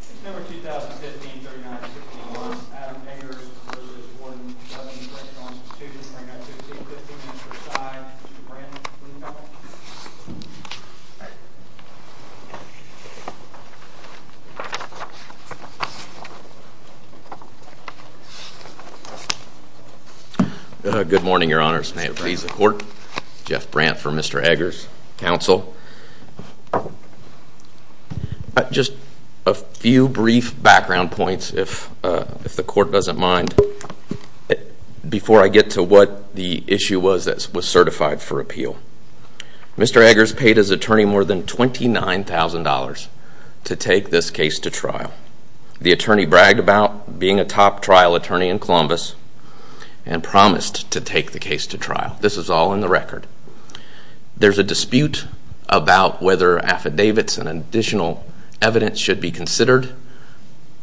September 2015, 39-51. Adam Eggers v. Warden Lebanon Correctional Institution, 39-15. 15 minutes per side. Mr. Brant, please come up. Good morning, your honors. May it please the court. Jeff Brant for Mr. Eggers. Counsel. Just a few brief background points, if the court doesn't mind, before I get to what the issue was that was certified for appeal. Mr. Eggers paid his attorney more than $29,000 to take this case to trial. The attorney bragged about being a top trial attorney in Columbus and promised to take the case to trial. This is all in the record. There's a dispute about whether affidavits and additional evidence should be considered.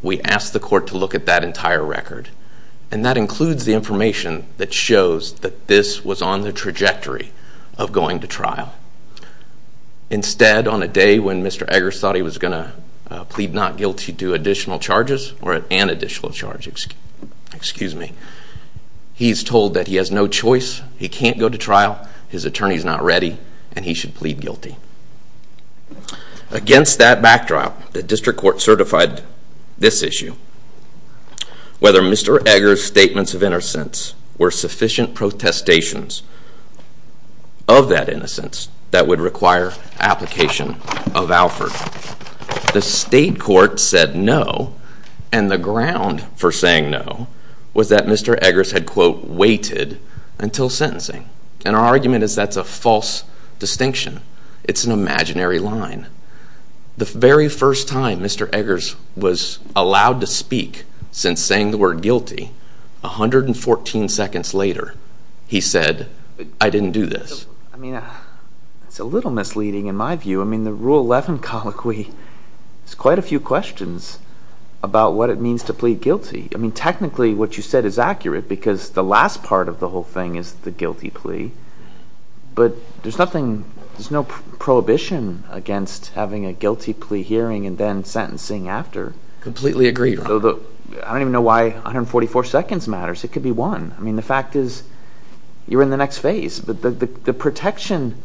We asked the court to look at that entire record. And that includes the information that shows that this was on the trajectory of going to trial. Instead, on a day when Mr. Eggers thought he was going to plead not guilty to additional charges, he's told that he has no choice, he can't go to trial, his attorney's not ready, and he should plead guilty. Against that backdrop, the district court certified this issue. Whether Mr. Eggers' statements of innocence were sufficient protestations of that innocence that would require application of Alfred. The state court said no, and the ground for saying no was that Mr. Eggers had, quote, waited until sentencing. And our argument is that's a false distinction. It's an imaginary line. The very first time Mr. Eggers was allowed to speak since saying the word guilty, 114 seconds later, he said, I didn't do this. I mean, it's a little misleading in my view. I mean, the rule 11 colloquy, there's quite a few questions about what it means to plead guilty. I mean, technically, what you said is accurate because the last part of the whole thing is the guilty plea. But there's nothing, there's no prohibition against having a guilty plea hearing and then sentencing after. Completely agreed. I don't even know why 144 seconds matters. It could be one. I mean, the fact is you're in the next phase. The protection,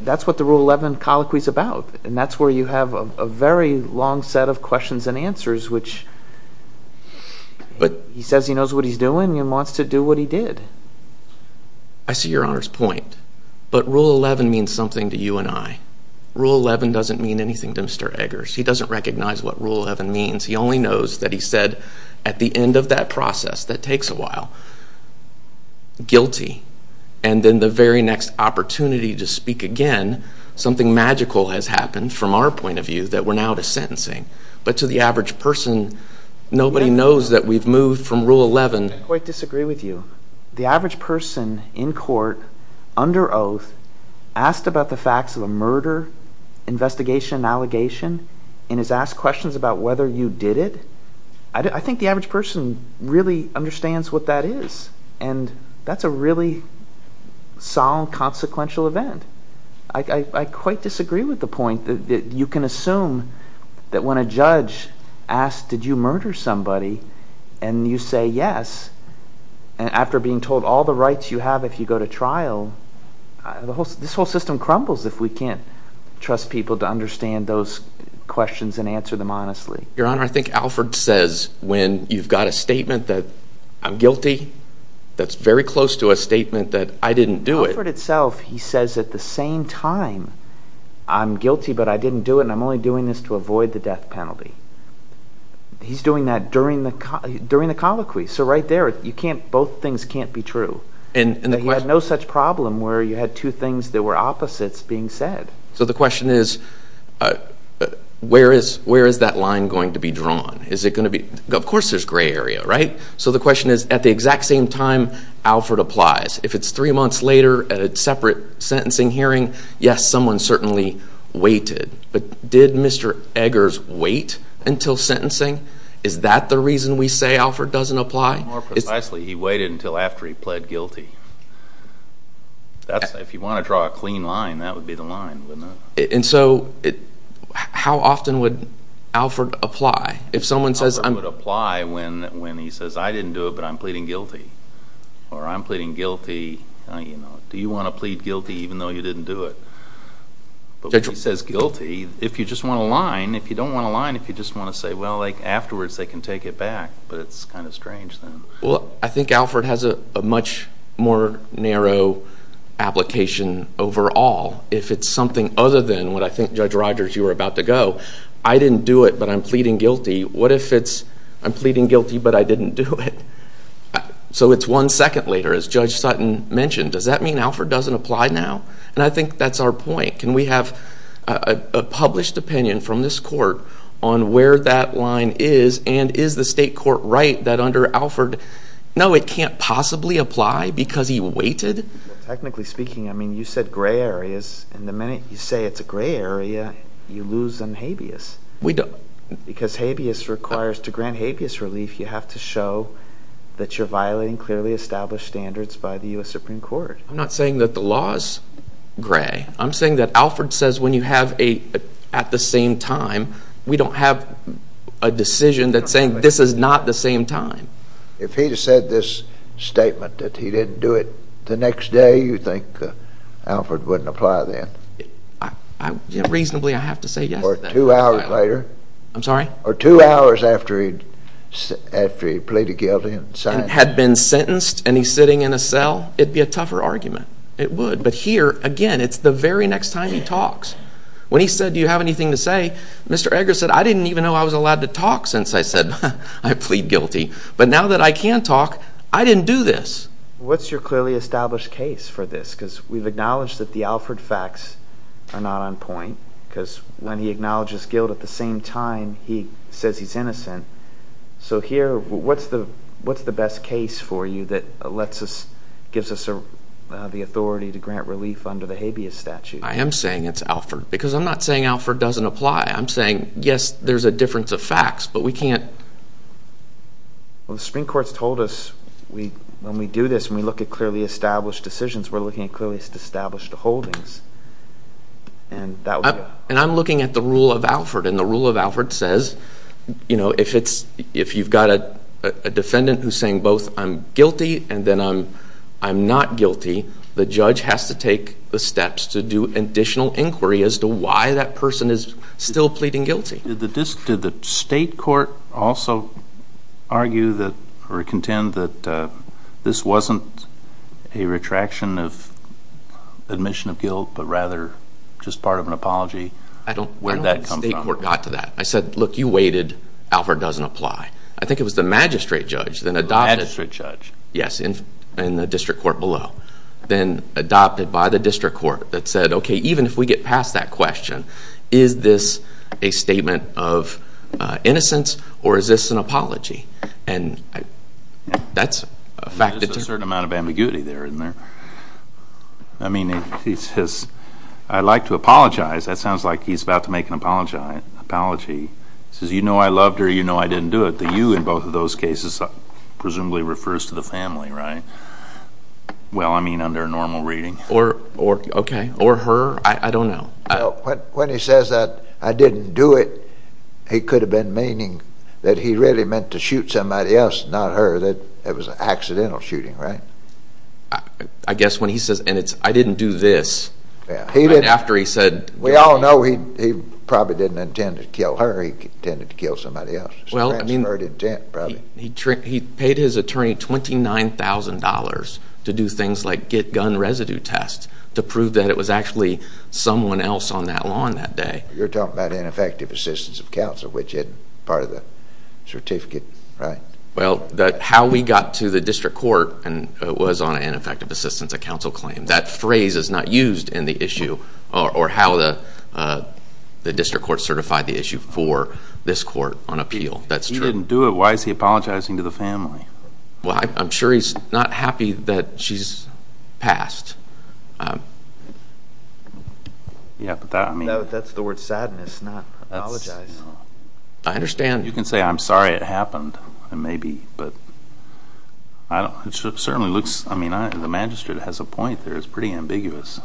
that's what the rule 11 colloquy is about. And that's where you have a very long set of questions and answers, which he says he knows what he's doing and wants to do what he did. I see your honor's point. But rule 11 means something to you and I. Rule 11 doesn't mean anything to Mr. Eggers. He doesn't recognize what rule 11 means. He only knows that he said at the end of that process, that takes a while, guilty. And then the very next opportunity to speak again, something magical has happened from our point of view that we're now to sentencing. But to the average person, nobody knows that we've moved from rule 11. I quite disagree with you. The average person in court, under oath, asked about the facts of a murder, investigation, allegation, and is asked questions about whether you did it. I think the average person really understands what that is. And that's a really solemn, consequential event. I quite disagree with the point that you can assume that when a judge asks, did you murder somebody, and you say yes. And after being told all the rights you have if you go to trial, this whole system crumbles if we can't trust people to understand those questions and answer them honestly. Your honor, I think Alfred says when you've got a statement that I'm guilty, that's very close to a statement that I didn't do it. Alfred itself, he says at the same time, I'm guilty but I didn't do it and I'm only doing this to avoid the death penalty. He's doing that during the colloquy. So right there, both things can't be true. He had no such problem where you had two things that were opposites being said. So the question is, where is that line going to be drawn? Of course there's gray area, right? So the question is, at the exact same time, Alfred applies. If it's three months later at a separate sentencing hearing, yes, someone certainly waited. But did Mr. Eggers wait until sentencing? Is that the reason we say Alfred doesn't apply? More precisely, he waited until after he pled guilty. If you want to draw a clean line, that would be the line, wouldn't it? And so how often would Alfred apply? Alfred would apply when he says, I didn't do it but I'm pleading guilty. Or I'm pleading guilty, do you want to plead guilty even though you didn't do it? But when he says guilty, if you just want a line, if you don't want a line, if you just want to say, well, afterwards they can take it back. But it's kind of strange then. Well, I think Alfred has a much more narrow application overall. If it's something other than what I think, Judge Rogers, you were about to go, I didn't do it but I'm pleading guilty, what if it's I'm pleading guilty but I didn't do it? So it's one second later, as Judge Sutton mentioned. Does that mean Alfred doesn't apply now? And I think that's our point. Can we have a published opinion from this court on where that line is and is the state court right that under Alfred, no, it can't possibly apply because he waited? Technically speaking, I mean, you said gray areas. And the minute you say it's a gray area, you lose on habeas. We don't. Because habeas requires, to grant habeas relief, you have to show that you're violating clearly established standards by the U.S. Supreme Court. I'm not saying that the law is gray. I'm saying that Alfred says when you have a at the same time, we don't have a decision that's saying this is not the same time. If he had said this statement that he didn't do it the next day, you think Alfred wouldn't apply then? Reasonably, I have to say yes. Or two hours later? Or two hours after he pleaded guilty and signed it? If he had been sentenced and he's sitting in a cell, it would be a tougher argument. It would. But here, again, it's the very next time he talks. When he said, do you have anything to say, Mr. Eggers said, I didn't even know I was allowed to talk since I said I plead guilty. But now that I can talk, I didn't do this. What's your clearly established case for this? Because we've acknowledged that the Alfred facts are not on point because when he acknowledges guilt at the same time, he says he's innocent. So here, what's the best case for you that gives us the authority to grant relief under the habeas statute? I am saying it's Alfred because I'm not saying Alfred doesn't apply. I'm saying, yes, there's a difference of facts, but we can't. Well, the Supreme Court's told us when we do this, when we look at clearly established decisions, we're looking at clearly established holdings. And I'm looking at the rule of Alfred, and the rule of Alfred says if you've got a defendant who's saying both I'm guilty and then I'm not guilty, the judge has to take the steps to do additional inquiry as to why that person is still pleading guilty. Did the state court also argue or contend that this wasn't a retraction of admission of guilt, but rather just part of an apology? I don't think the state court got to that. I said, look, you waited. Alfred doesn't apply. I think it was the magistrate judge that adopted it. The magistrate judge. Yes, in the district court below. Then adopted by the district court that said, okay, even if we get past that question, is this a statement of innocence or is this an apology? There's a certain amount of ambiguity there, isn't there? I'd like to apologize. That sounds like he's about to make an apology. He says, you know I loved her. You know I didn't do it. The you in both of those cases presumably refers to the family, right? Well, I mean under normal reading. Okay. Or her. I don't know. When he says that I didn't do it, he could have been meaning that he really meant to shoot somebody else, not her. It was an accidental shooting, right? I guess when he says, and it's I didn't do this, after he said. We all know he probably didn't intend to kill her. He intended to kill somebody else. Well, I mean. Transferred intent probably. He paid his attorney $29,000 to do things like get gun residue tests to prove that it was actually someone else on that lawn that day. You're talking about ineffective assistance of counsel, which is part of the certificate, right? Well, how we got to the district court was on ineffective assistance of counsel claim. That phrase is not used in the issue or how the district court certified the issue for this court on appeal. That's true. If he didn't do it, why is he apologizing to the family? Well, I'm sure he's not happy that she's passed. Yeah, but that. That's the word sadness, not apologize. I understand. You can say, I'm sorry it happened. It may be, but it certainly looks. I mean, the magistrate has a point there. It's pretty ambiguous.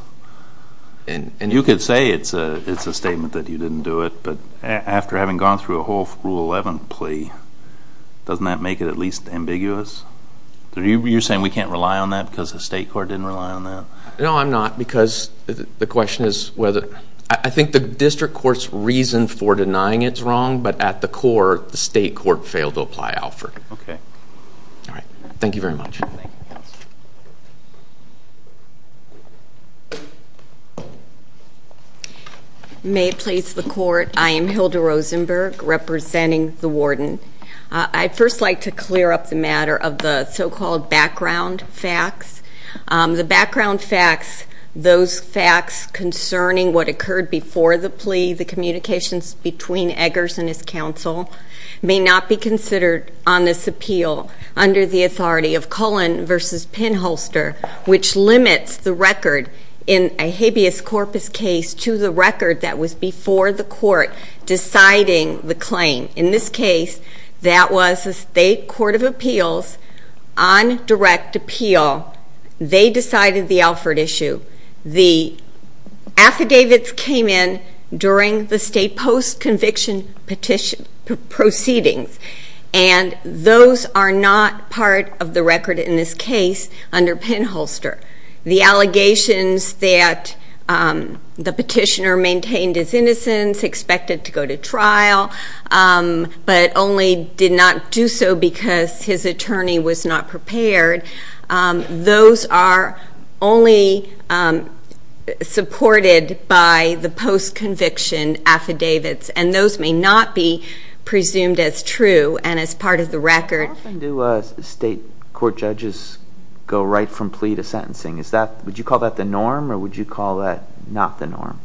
You could say it's a statement that you didn't do it, but after having gone through a whole Rule 11 plea, doesn't that make it at least ambiguous? You're saying we can't rely on that because the state court didn't rely on that? No, I'm not, because the question is whether. I think the district court's reason for denying it's wrong, but at the core, the state court failed to apply Alfred. Okay. All right. Thank you very much. May it please the court, I am Hilda Rosenberg, representing the warden. I'd first like to clear up the matter of the so-called background facts. The background facts, those facts concerning what occurred before the plea, the communications between Eggers and his counsel, may not be considered on this appeal under the authority of Cullen v. Pinholster, which limits the record in a habeas corpus case to the record that was before the court deciding the claim. In this case, that was the state court of appeals on direct appeal. They decided the Alfred issue. The affidavits came in during the state post-conviction proceedings, and those are not part of the record in this case under Pinholster. The allegations that the petitioner maintained his innocence, expected to go to trial, but only did not do so because his attorney was not prepared, those are only supported by the post-conviction affidavits, and those may not be presumed as true and as part of the record. How often do state court judges go right from plea to sentencing? Would you call that the norm, or would you call that not the norm?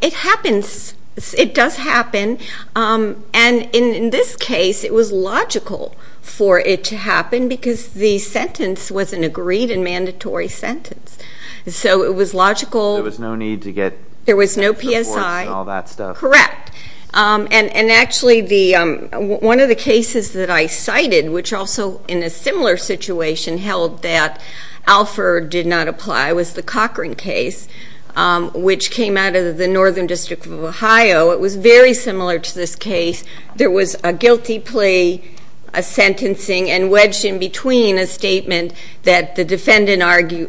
It happens. It does happen. In this case, it was logical for it to happen because the sentence was an agreed and mandatory sentence. So it was logical. There was no need to get reports and all that stuff? There was no PSI. Correct. Actually, one of the cases that I cited, which also in a similar situation held that Alfred did not apply, was the Cochran case, which came out of the Northern District of Ohio. It was very similar to this case. There was a guilty plea, a sentencing, and wedged in between a statement that the defendant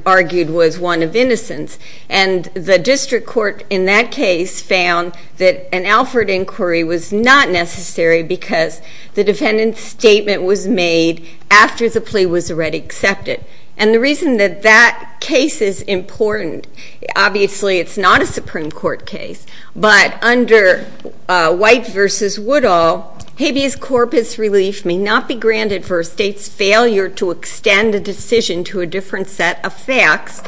argued was one of innocence. And the district court in that case found that an Alfred inquiry was not necessary because the defendant's statement was made after the plea was already accepted. And the reason that that case is important, obviously it's not a Supreme Court case, but under White v. Woodall, habeas corpus relief may not be granted for a state's failure to extend a decision to a different set of facts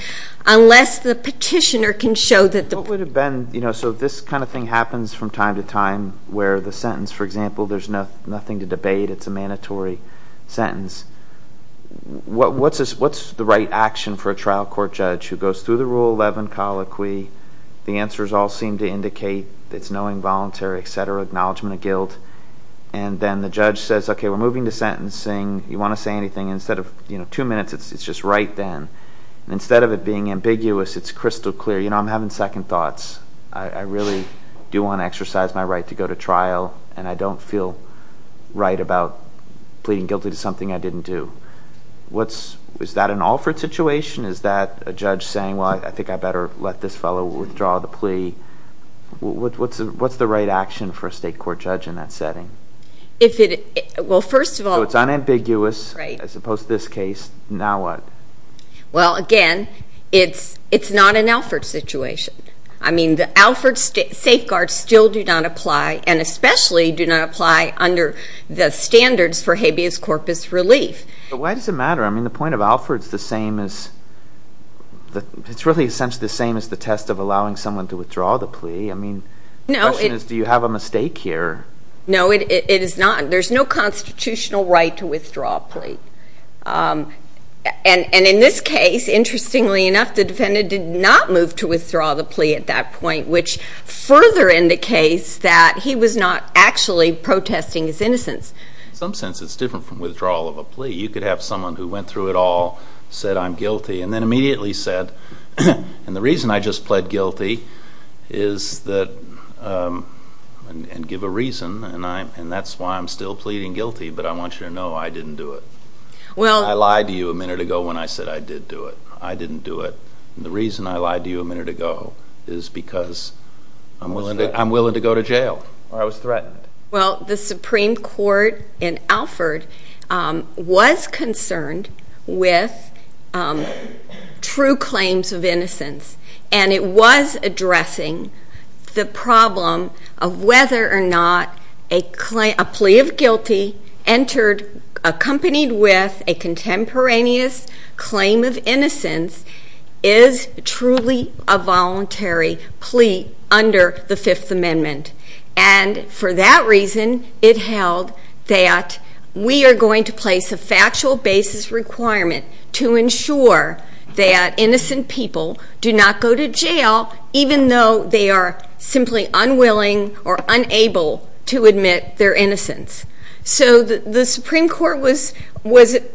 unless the petitioner can show that the- So this kind of thing happens from time to time where the sentence, for example, there's nothing to debate, it's a mandatory sentence. What's the right action for a trial court judge who goes through the Rule 11 colloquy, the answers all seem to indicate it's no involuntary, et cetera, acknowledgement of guilt, and then the judge says, okay, we're moving to sentencing, you want to say anything, instead of two minutes, it's just right then. Instead of it being ambiguous, it's crystal clear, you know, I'm having second thoughts. I really do want to exercise my right to go to trial, and I don't feel right about pleading guilty to something I didn't do. Is that an Alfred situation? Is that a judge saying, well, I think I better let this fellow withdraw the plea? What's the right action for a state court judge in that setting? Well, first of all- So it's unambiguous as opposed to this case, now what? Well, again, it's not an Alfred situation. I mean, the Alfred safeguards still do not apply and especially do not apply under the standards for habeas corpus relief. But why does it matter? I mean, the point of Alfred is the same as- it's really essentially the same as the test of allowing someone to withdraw the plea. I mean, the question is, do you have a mistake here? No, it is not. There's no constitutional right to withdraw a plea. And in this case, interestingly enough, the defendant did not move to withdraw the plea at that point, which further indicates that he was not actually protesting his innocence. In some sense, it's different from withdrawal of a plea. You could have someone who went through it all, said, I'm guilty, and then immediately said, and the reason I just pled guilty is that- and give a reason, and that's why I'm still pleading guilty, but I want you to know I didn't do it. I lied to you a minute ago when I said I did do it. I didn't do it. And the reason I lied to you a minute ago is because I'm willing to go to jail. Or I was threatened. Well, the Supreme Court in Alford was concerned with true claims of innocence, and it was addressing the problem of whether or not a plea of guilty accompanied with a contemporaneous claim of innocence is truly a voluntary plea under the Fifth Amendment. And for that reason, it held that we are going to place a factual basis requirement to ensure that innocent people do not go to jail, even though they are simply unwilling or unable to admit their innocence. So the Supreme Court was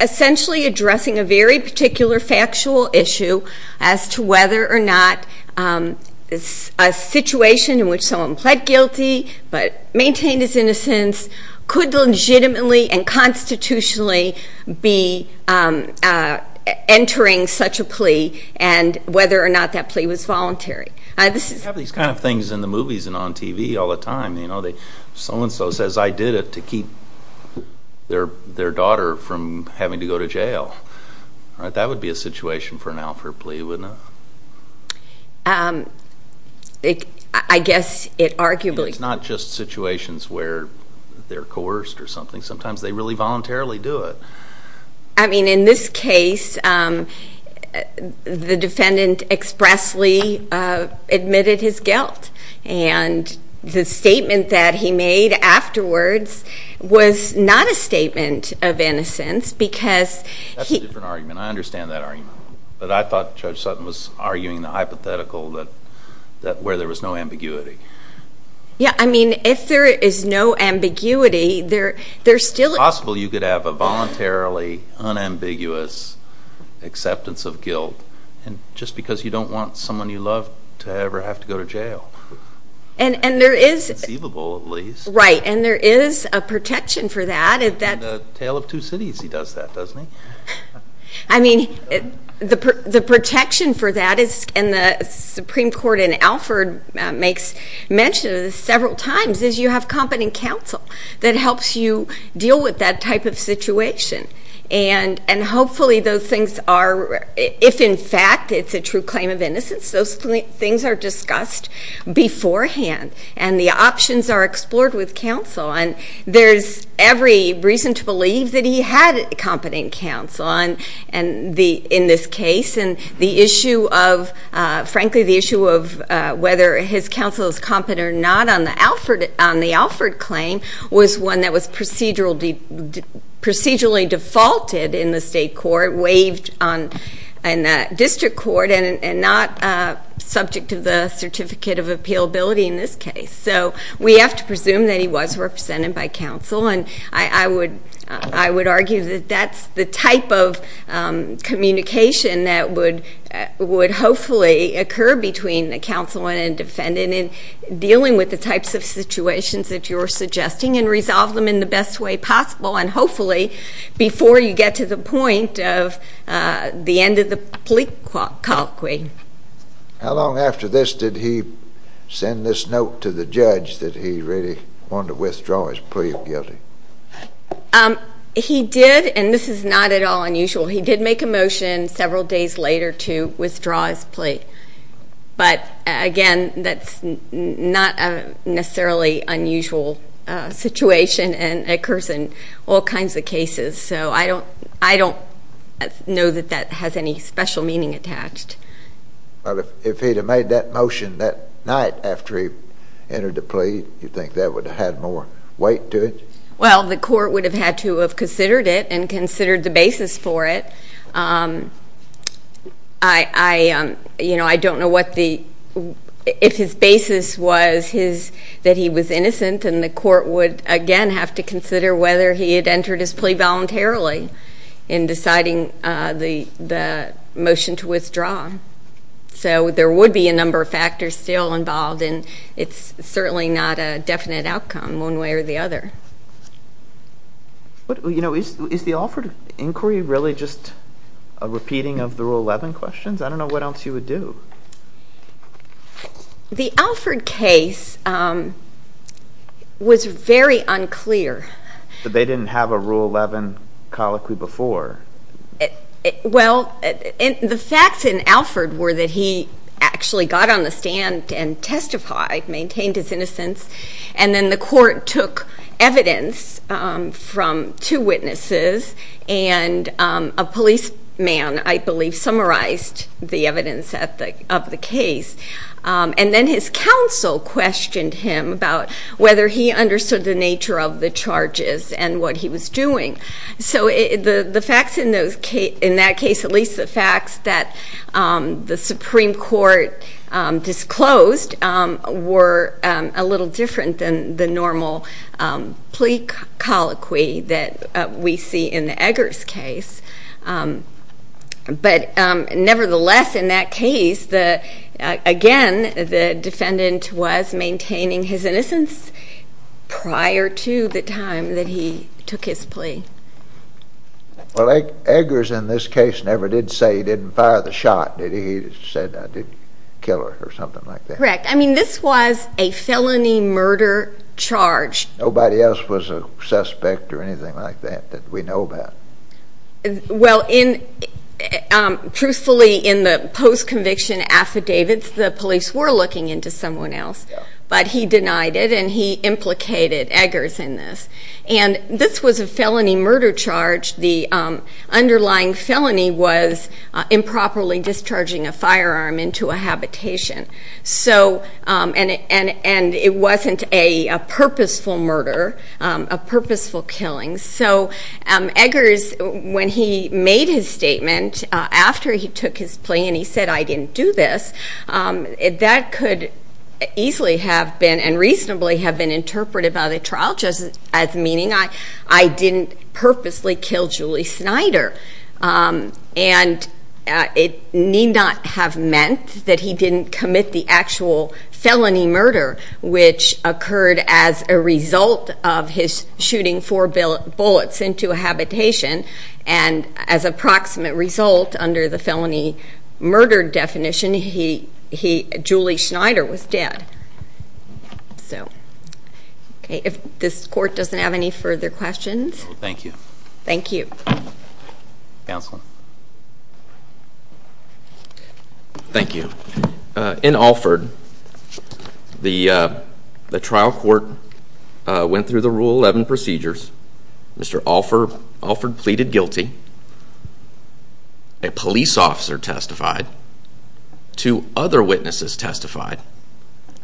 essentially addressing a very particular factual issue as to whether or not a situation in which someone pled guilty but maintained his innocence could legitimately and constitutionally be entering such a plea and whether or not that plea was voluntary. You have these kind of things in the movies and on TV all the time. Someone says, I did it to keep their daughter from having to go to jail. That would be a situation for an Alford plea, wouldn't it? I guess it arguably could. It's not just situations where they're coerced or something. Sometimes they really voluntarily do it. I mean, in this case, the defendant expressly admitted his guilt, and the statement that he made afterwards was not a statement of innocence because he... That's a different argument. I understand that argument. But I thought Judge Sutton was arguing the hypothetical where there was no ambiguity. Yeah, I mean, if there is no ambiguity, there's still... It's possible you could have a voluntarily unambiguous acceptance of guilt just because you don't want someone you love to ever have to go to jail. And there is... Inconceivable, at least. Right, and there is a protection for that. In the Tale of Two Cities, he does that, doesn't he? I mean, the protection for that is, and the Supreme Court in Alford makes mention of this several times, is you have competent counsel that helps you deal with that type of situation. And hopefully those things are, if in fact it's a true claim of innocence, those things are discussed beforehand, and the options are explored with counsel. And there's every reason to believe that he had competent counsel in this case. And the issue of, frankly, the issue of whether his counsel is competent or not on the Alford claim was one that was procedurally defaulted in the state court, waived in the district court, and not subject to the Certificate of Appealability in this case. So we have to presume that he was represented by counsel, and I would argue that that's the type of communication that would hopefully occur between the counsel and the defendant in dealing with the types of situations that you're suggesting and resolve them in the best way possible, and hopefully before you get to the point of the end of the plea colloquy. How long after this did he send this note to the judge that he really wanted to withdraw his plea of guilty? He did, and this is not at all unusual. He did make a motion several days later to withdraw his plea. But again, that's not a necessarily unusual situation, and it occurs in all kinds of cases. So I don't know that that has any special meaning attached. But if he had made that motion that night after he entered the plea, do you think that would have had more weight to it? Well, the court would have had to have considered it and considered the basis for it. I don't know if his basis was that he was innocent, and the court would, again, have to consider whether he had entered his plea voluntarily in deciding the motion to withdraw. So there would be a number of factors still involved, and it's certainly not a definite outcome one way or the other. Is the Alford inquiry really just a repeating of the Rule 11 questions? I don't know what else you would do. The Alford case was very unclear. But they didn't have a Rule 11 colloquy before. Well, the facts in Alford were that he actually got on the stand and testified, maintained his innocence, and then the court took evidence from two witnesses and a policeman, I believe, summarized the evidence of the case. And then his counsel questioned him about whether he understood the nature of the charges and what he was doing. So the facts in that case, at least the facts that the Supreme Court disclosed, were a little different than the normal plea colloquy that we see in the Eggers case. But nevertheless, in that case, again, the defendant was maintaining his innocence prior to the time that he took his plea. Well, Eggers in this case never did say he didn't fire the shot. He said he didn't kill her or something like that. Correct. I mean, this was a felony murder charge. Nobody else was a suspect or anything like that that we know about. Well, truthfully, in the post-conviction affidavits, the police were looking into someone else. But he denied it, and he implicated Eggers in this. And this was a felony murder charge. The underlying felony was improperly discharging a firearm into a habitation. And it wasn't a purposeful murder, a purposeful killing. So Eggers, when he made his statement after he took his plea and he said, I didn't do this, that could easily have been and reasonably have been interpreted by the trial judge as meaning I didn't purposely kill Julie Schneider. And it need not have meant that he didn't commit the actual felony murder, which occurred as a result of his shooting four bullets into a habitation. And as a proximate result, under the felony murder definition, Julie Schneider was dead. So, okay, if this court doesn't have any further questions. Thank you. Thank you. Counselor. Thank you. In Alford, the trial court went through the Rule 11 procedures. Mr. Alford pleaded guilty. A police officer testified. Two other witnesses testified.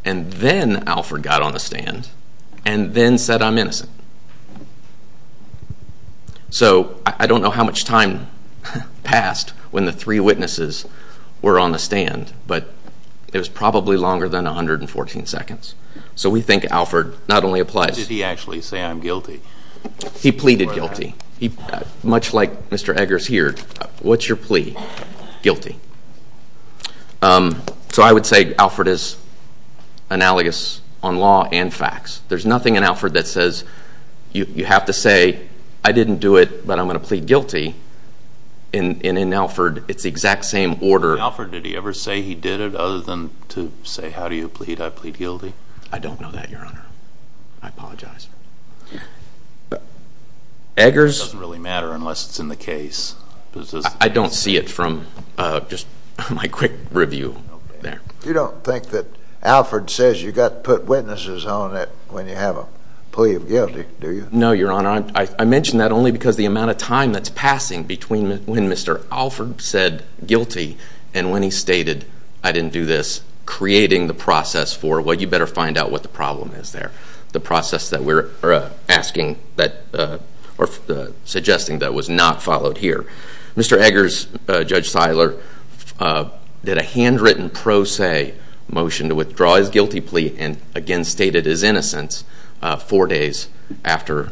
And then Alford got on the stand and then said, I'm innocent. So I don't know how much time passed when the three witnesses were on the stand, but it was probably longer than 114 seconds. So we think Alford not only applies. Did he actually say, I'm guilty? He pleaded guilty. Much like Mr. Eggers here, what's your plea? Guilty. So I would say Alford is analogous on law and facts. There's nothing in Alford that says you have to say, I didn't do it, but I'm going to plead guilty. And in Alford, it's the exact same order. In Alford, did he ever say he did it other than to say, how do you plead? I plead guilty. I don't know that, Your Honor. I apologize. Eggers? It doesn't really matter unless it's in the case. I don't see it from just my quick review there. You don't think that Alford says you've got to put witnesses on it when you have a plea of guilty, do you? No, Your Honor. I mention that only because the amount of time that's passing between when Mr. Alford said guilty and when he stated, I didn't do this, creating the process for, well, you better find out what the problem is there, the process that we're asking or suggesting that was not followed here. Mr. Eggers, Judge Seiler, did a handwritten pro se motion to withdraw his guilty plea and again stated his innocence four days after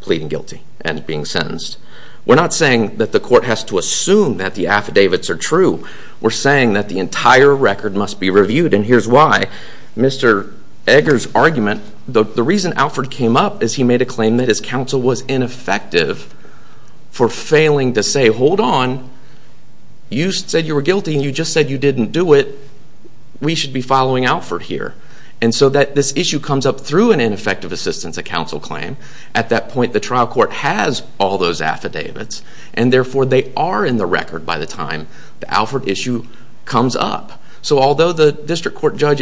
pleading guilty and being sentenced. We're not saying that the court has to assume that the affidavits are true. We're saying that the entire record must be reviewed, and here's why. Mr. Eggers' argument, the reason Alford came up is he made a claim that his counsel was ineffective for failing to say, hold on, you said you were guilty and you just said you didn't do it. We should be following Alford here. And so this issue comes up through an ineffective assistance of counsel claim. At that point, the trial court has all those affidavits, and therefore they are in the record by the time the Alford issue comes up. So although the district court judge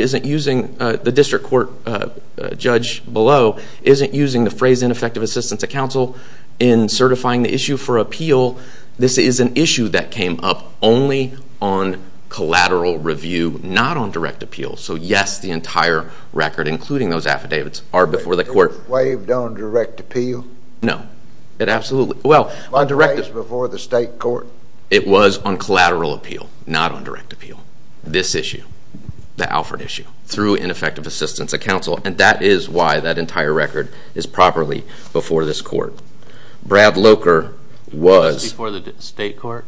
below isn't using the phrase ineffective assistance of counsel in certifying the issue for appeal, this is an issue that came up only on collateral review, not on direct appeal. So, yes, the entire record, including those affidavits, are before the court. Were they waived on direct appeal? No, absolutely. Were they waived before the state court? It was on collateral appeal, not on direct appeal. This issue, the Alford issue, through ineffective assistance of counsel, and that is why that entire record is properly before this court. Brad Loker was- Before the state court?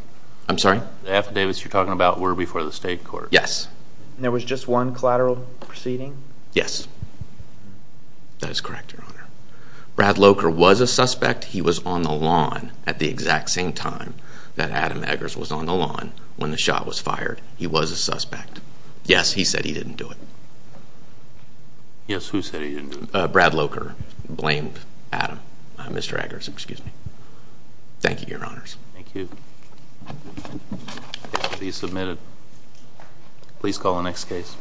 I'm sorry? The affidavits you're talking about were before the state court. Yes. And there was just one collateral proceeding? Yes. That is correct, Your Honor. Brad Loker was a suspect. He was on the lawn at the exact same time that Adam Eggers was on the lawn when the shot was fired. He was a suspect. Yes, he said he didn't do it. Yes, who said he didn't do it? Brad Loker blamed Adam, Mr. Eggers, excuse me. Thank you, Your Honors. Thank you. Please submit it. Please call the next case.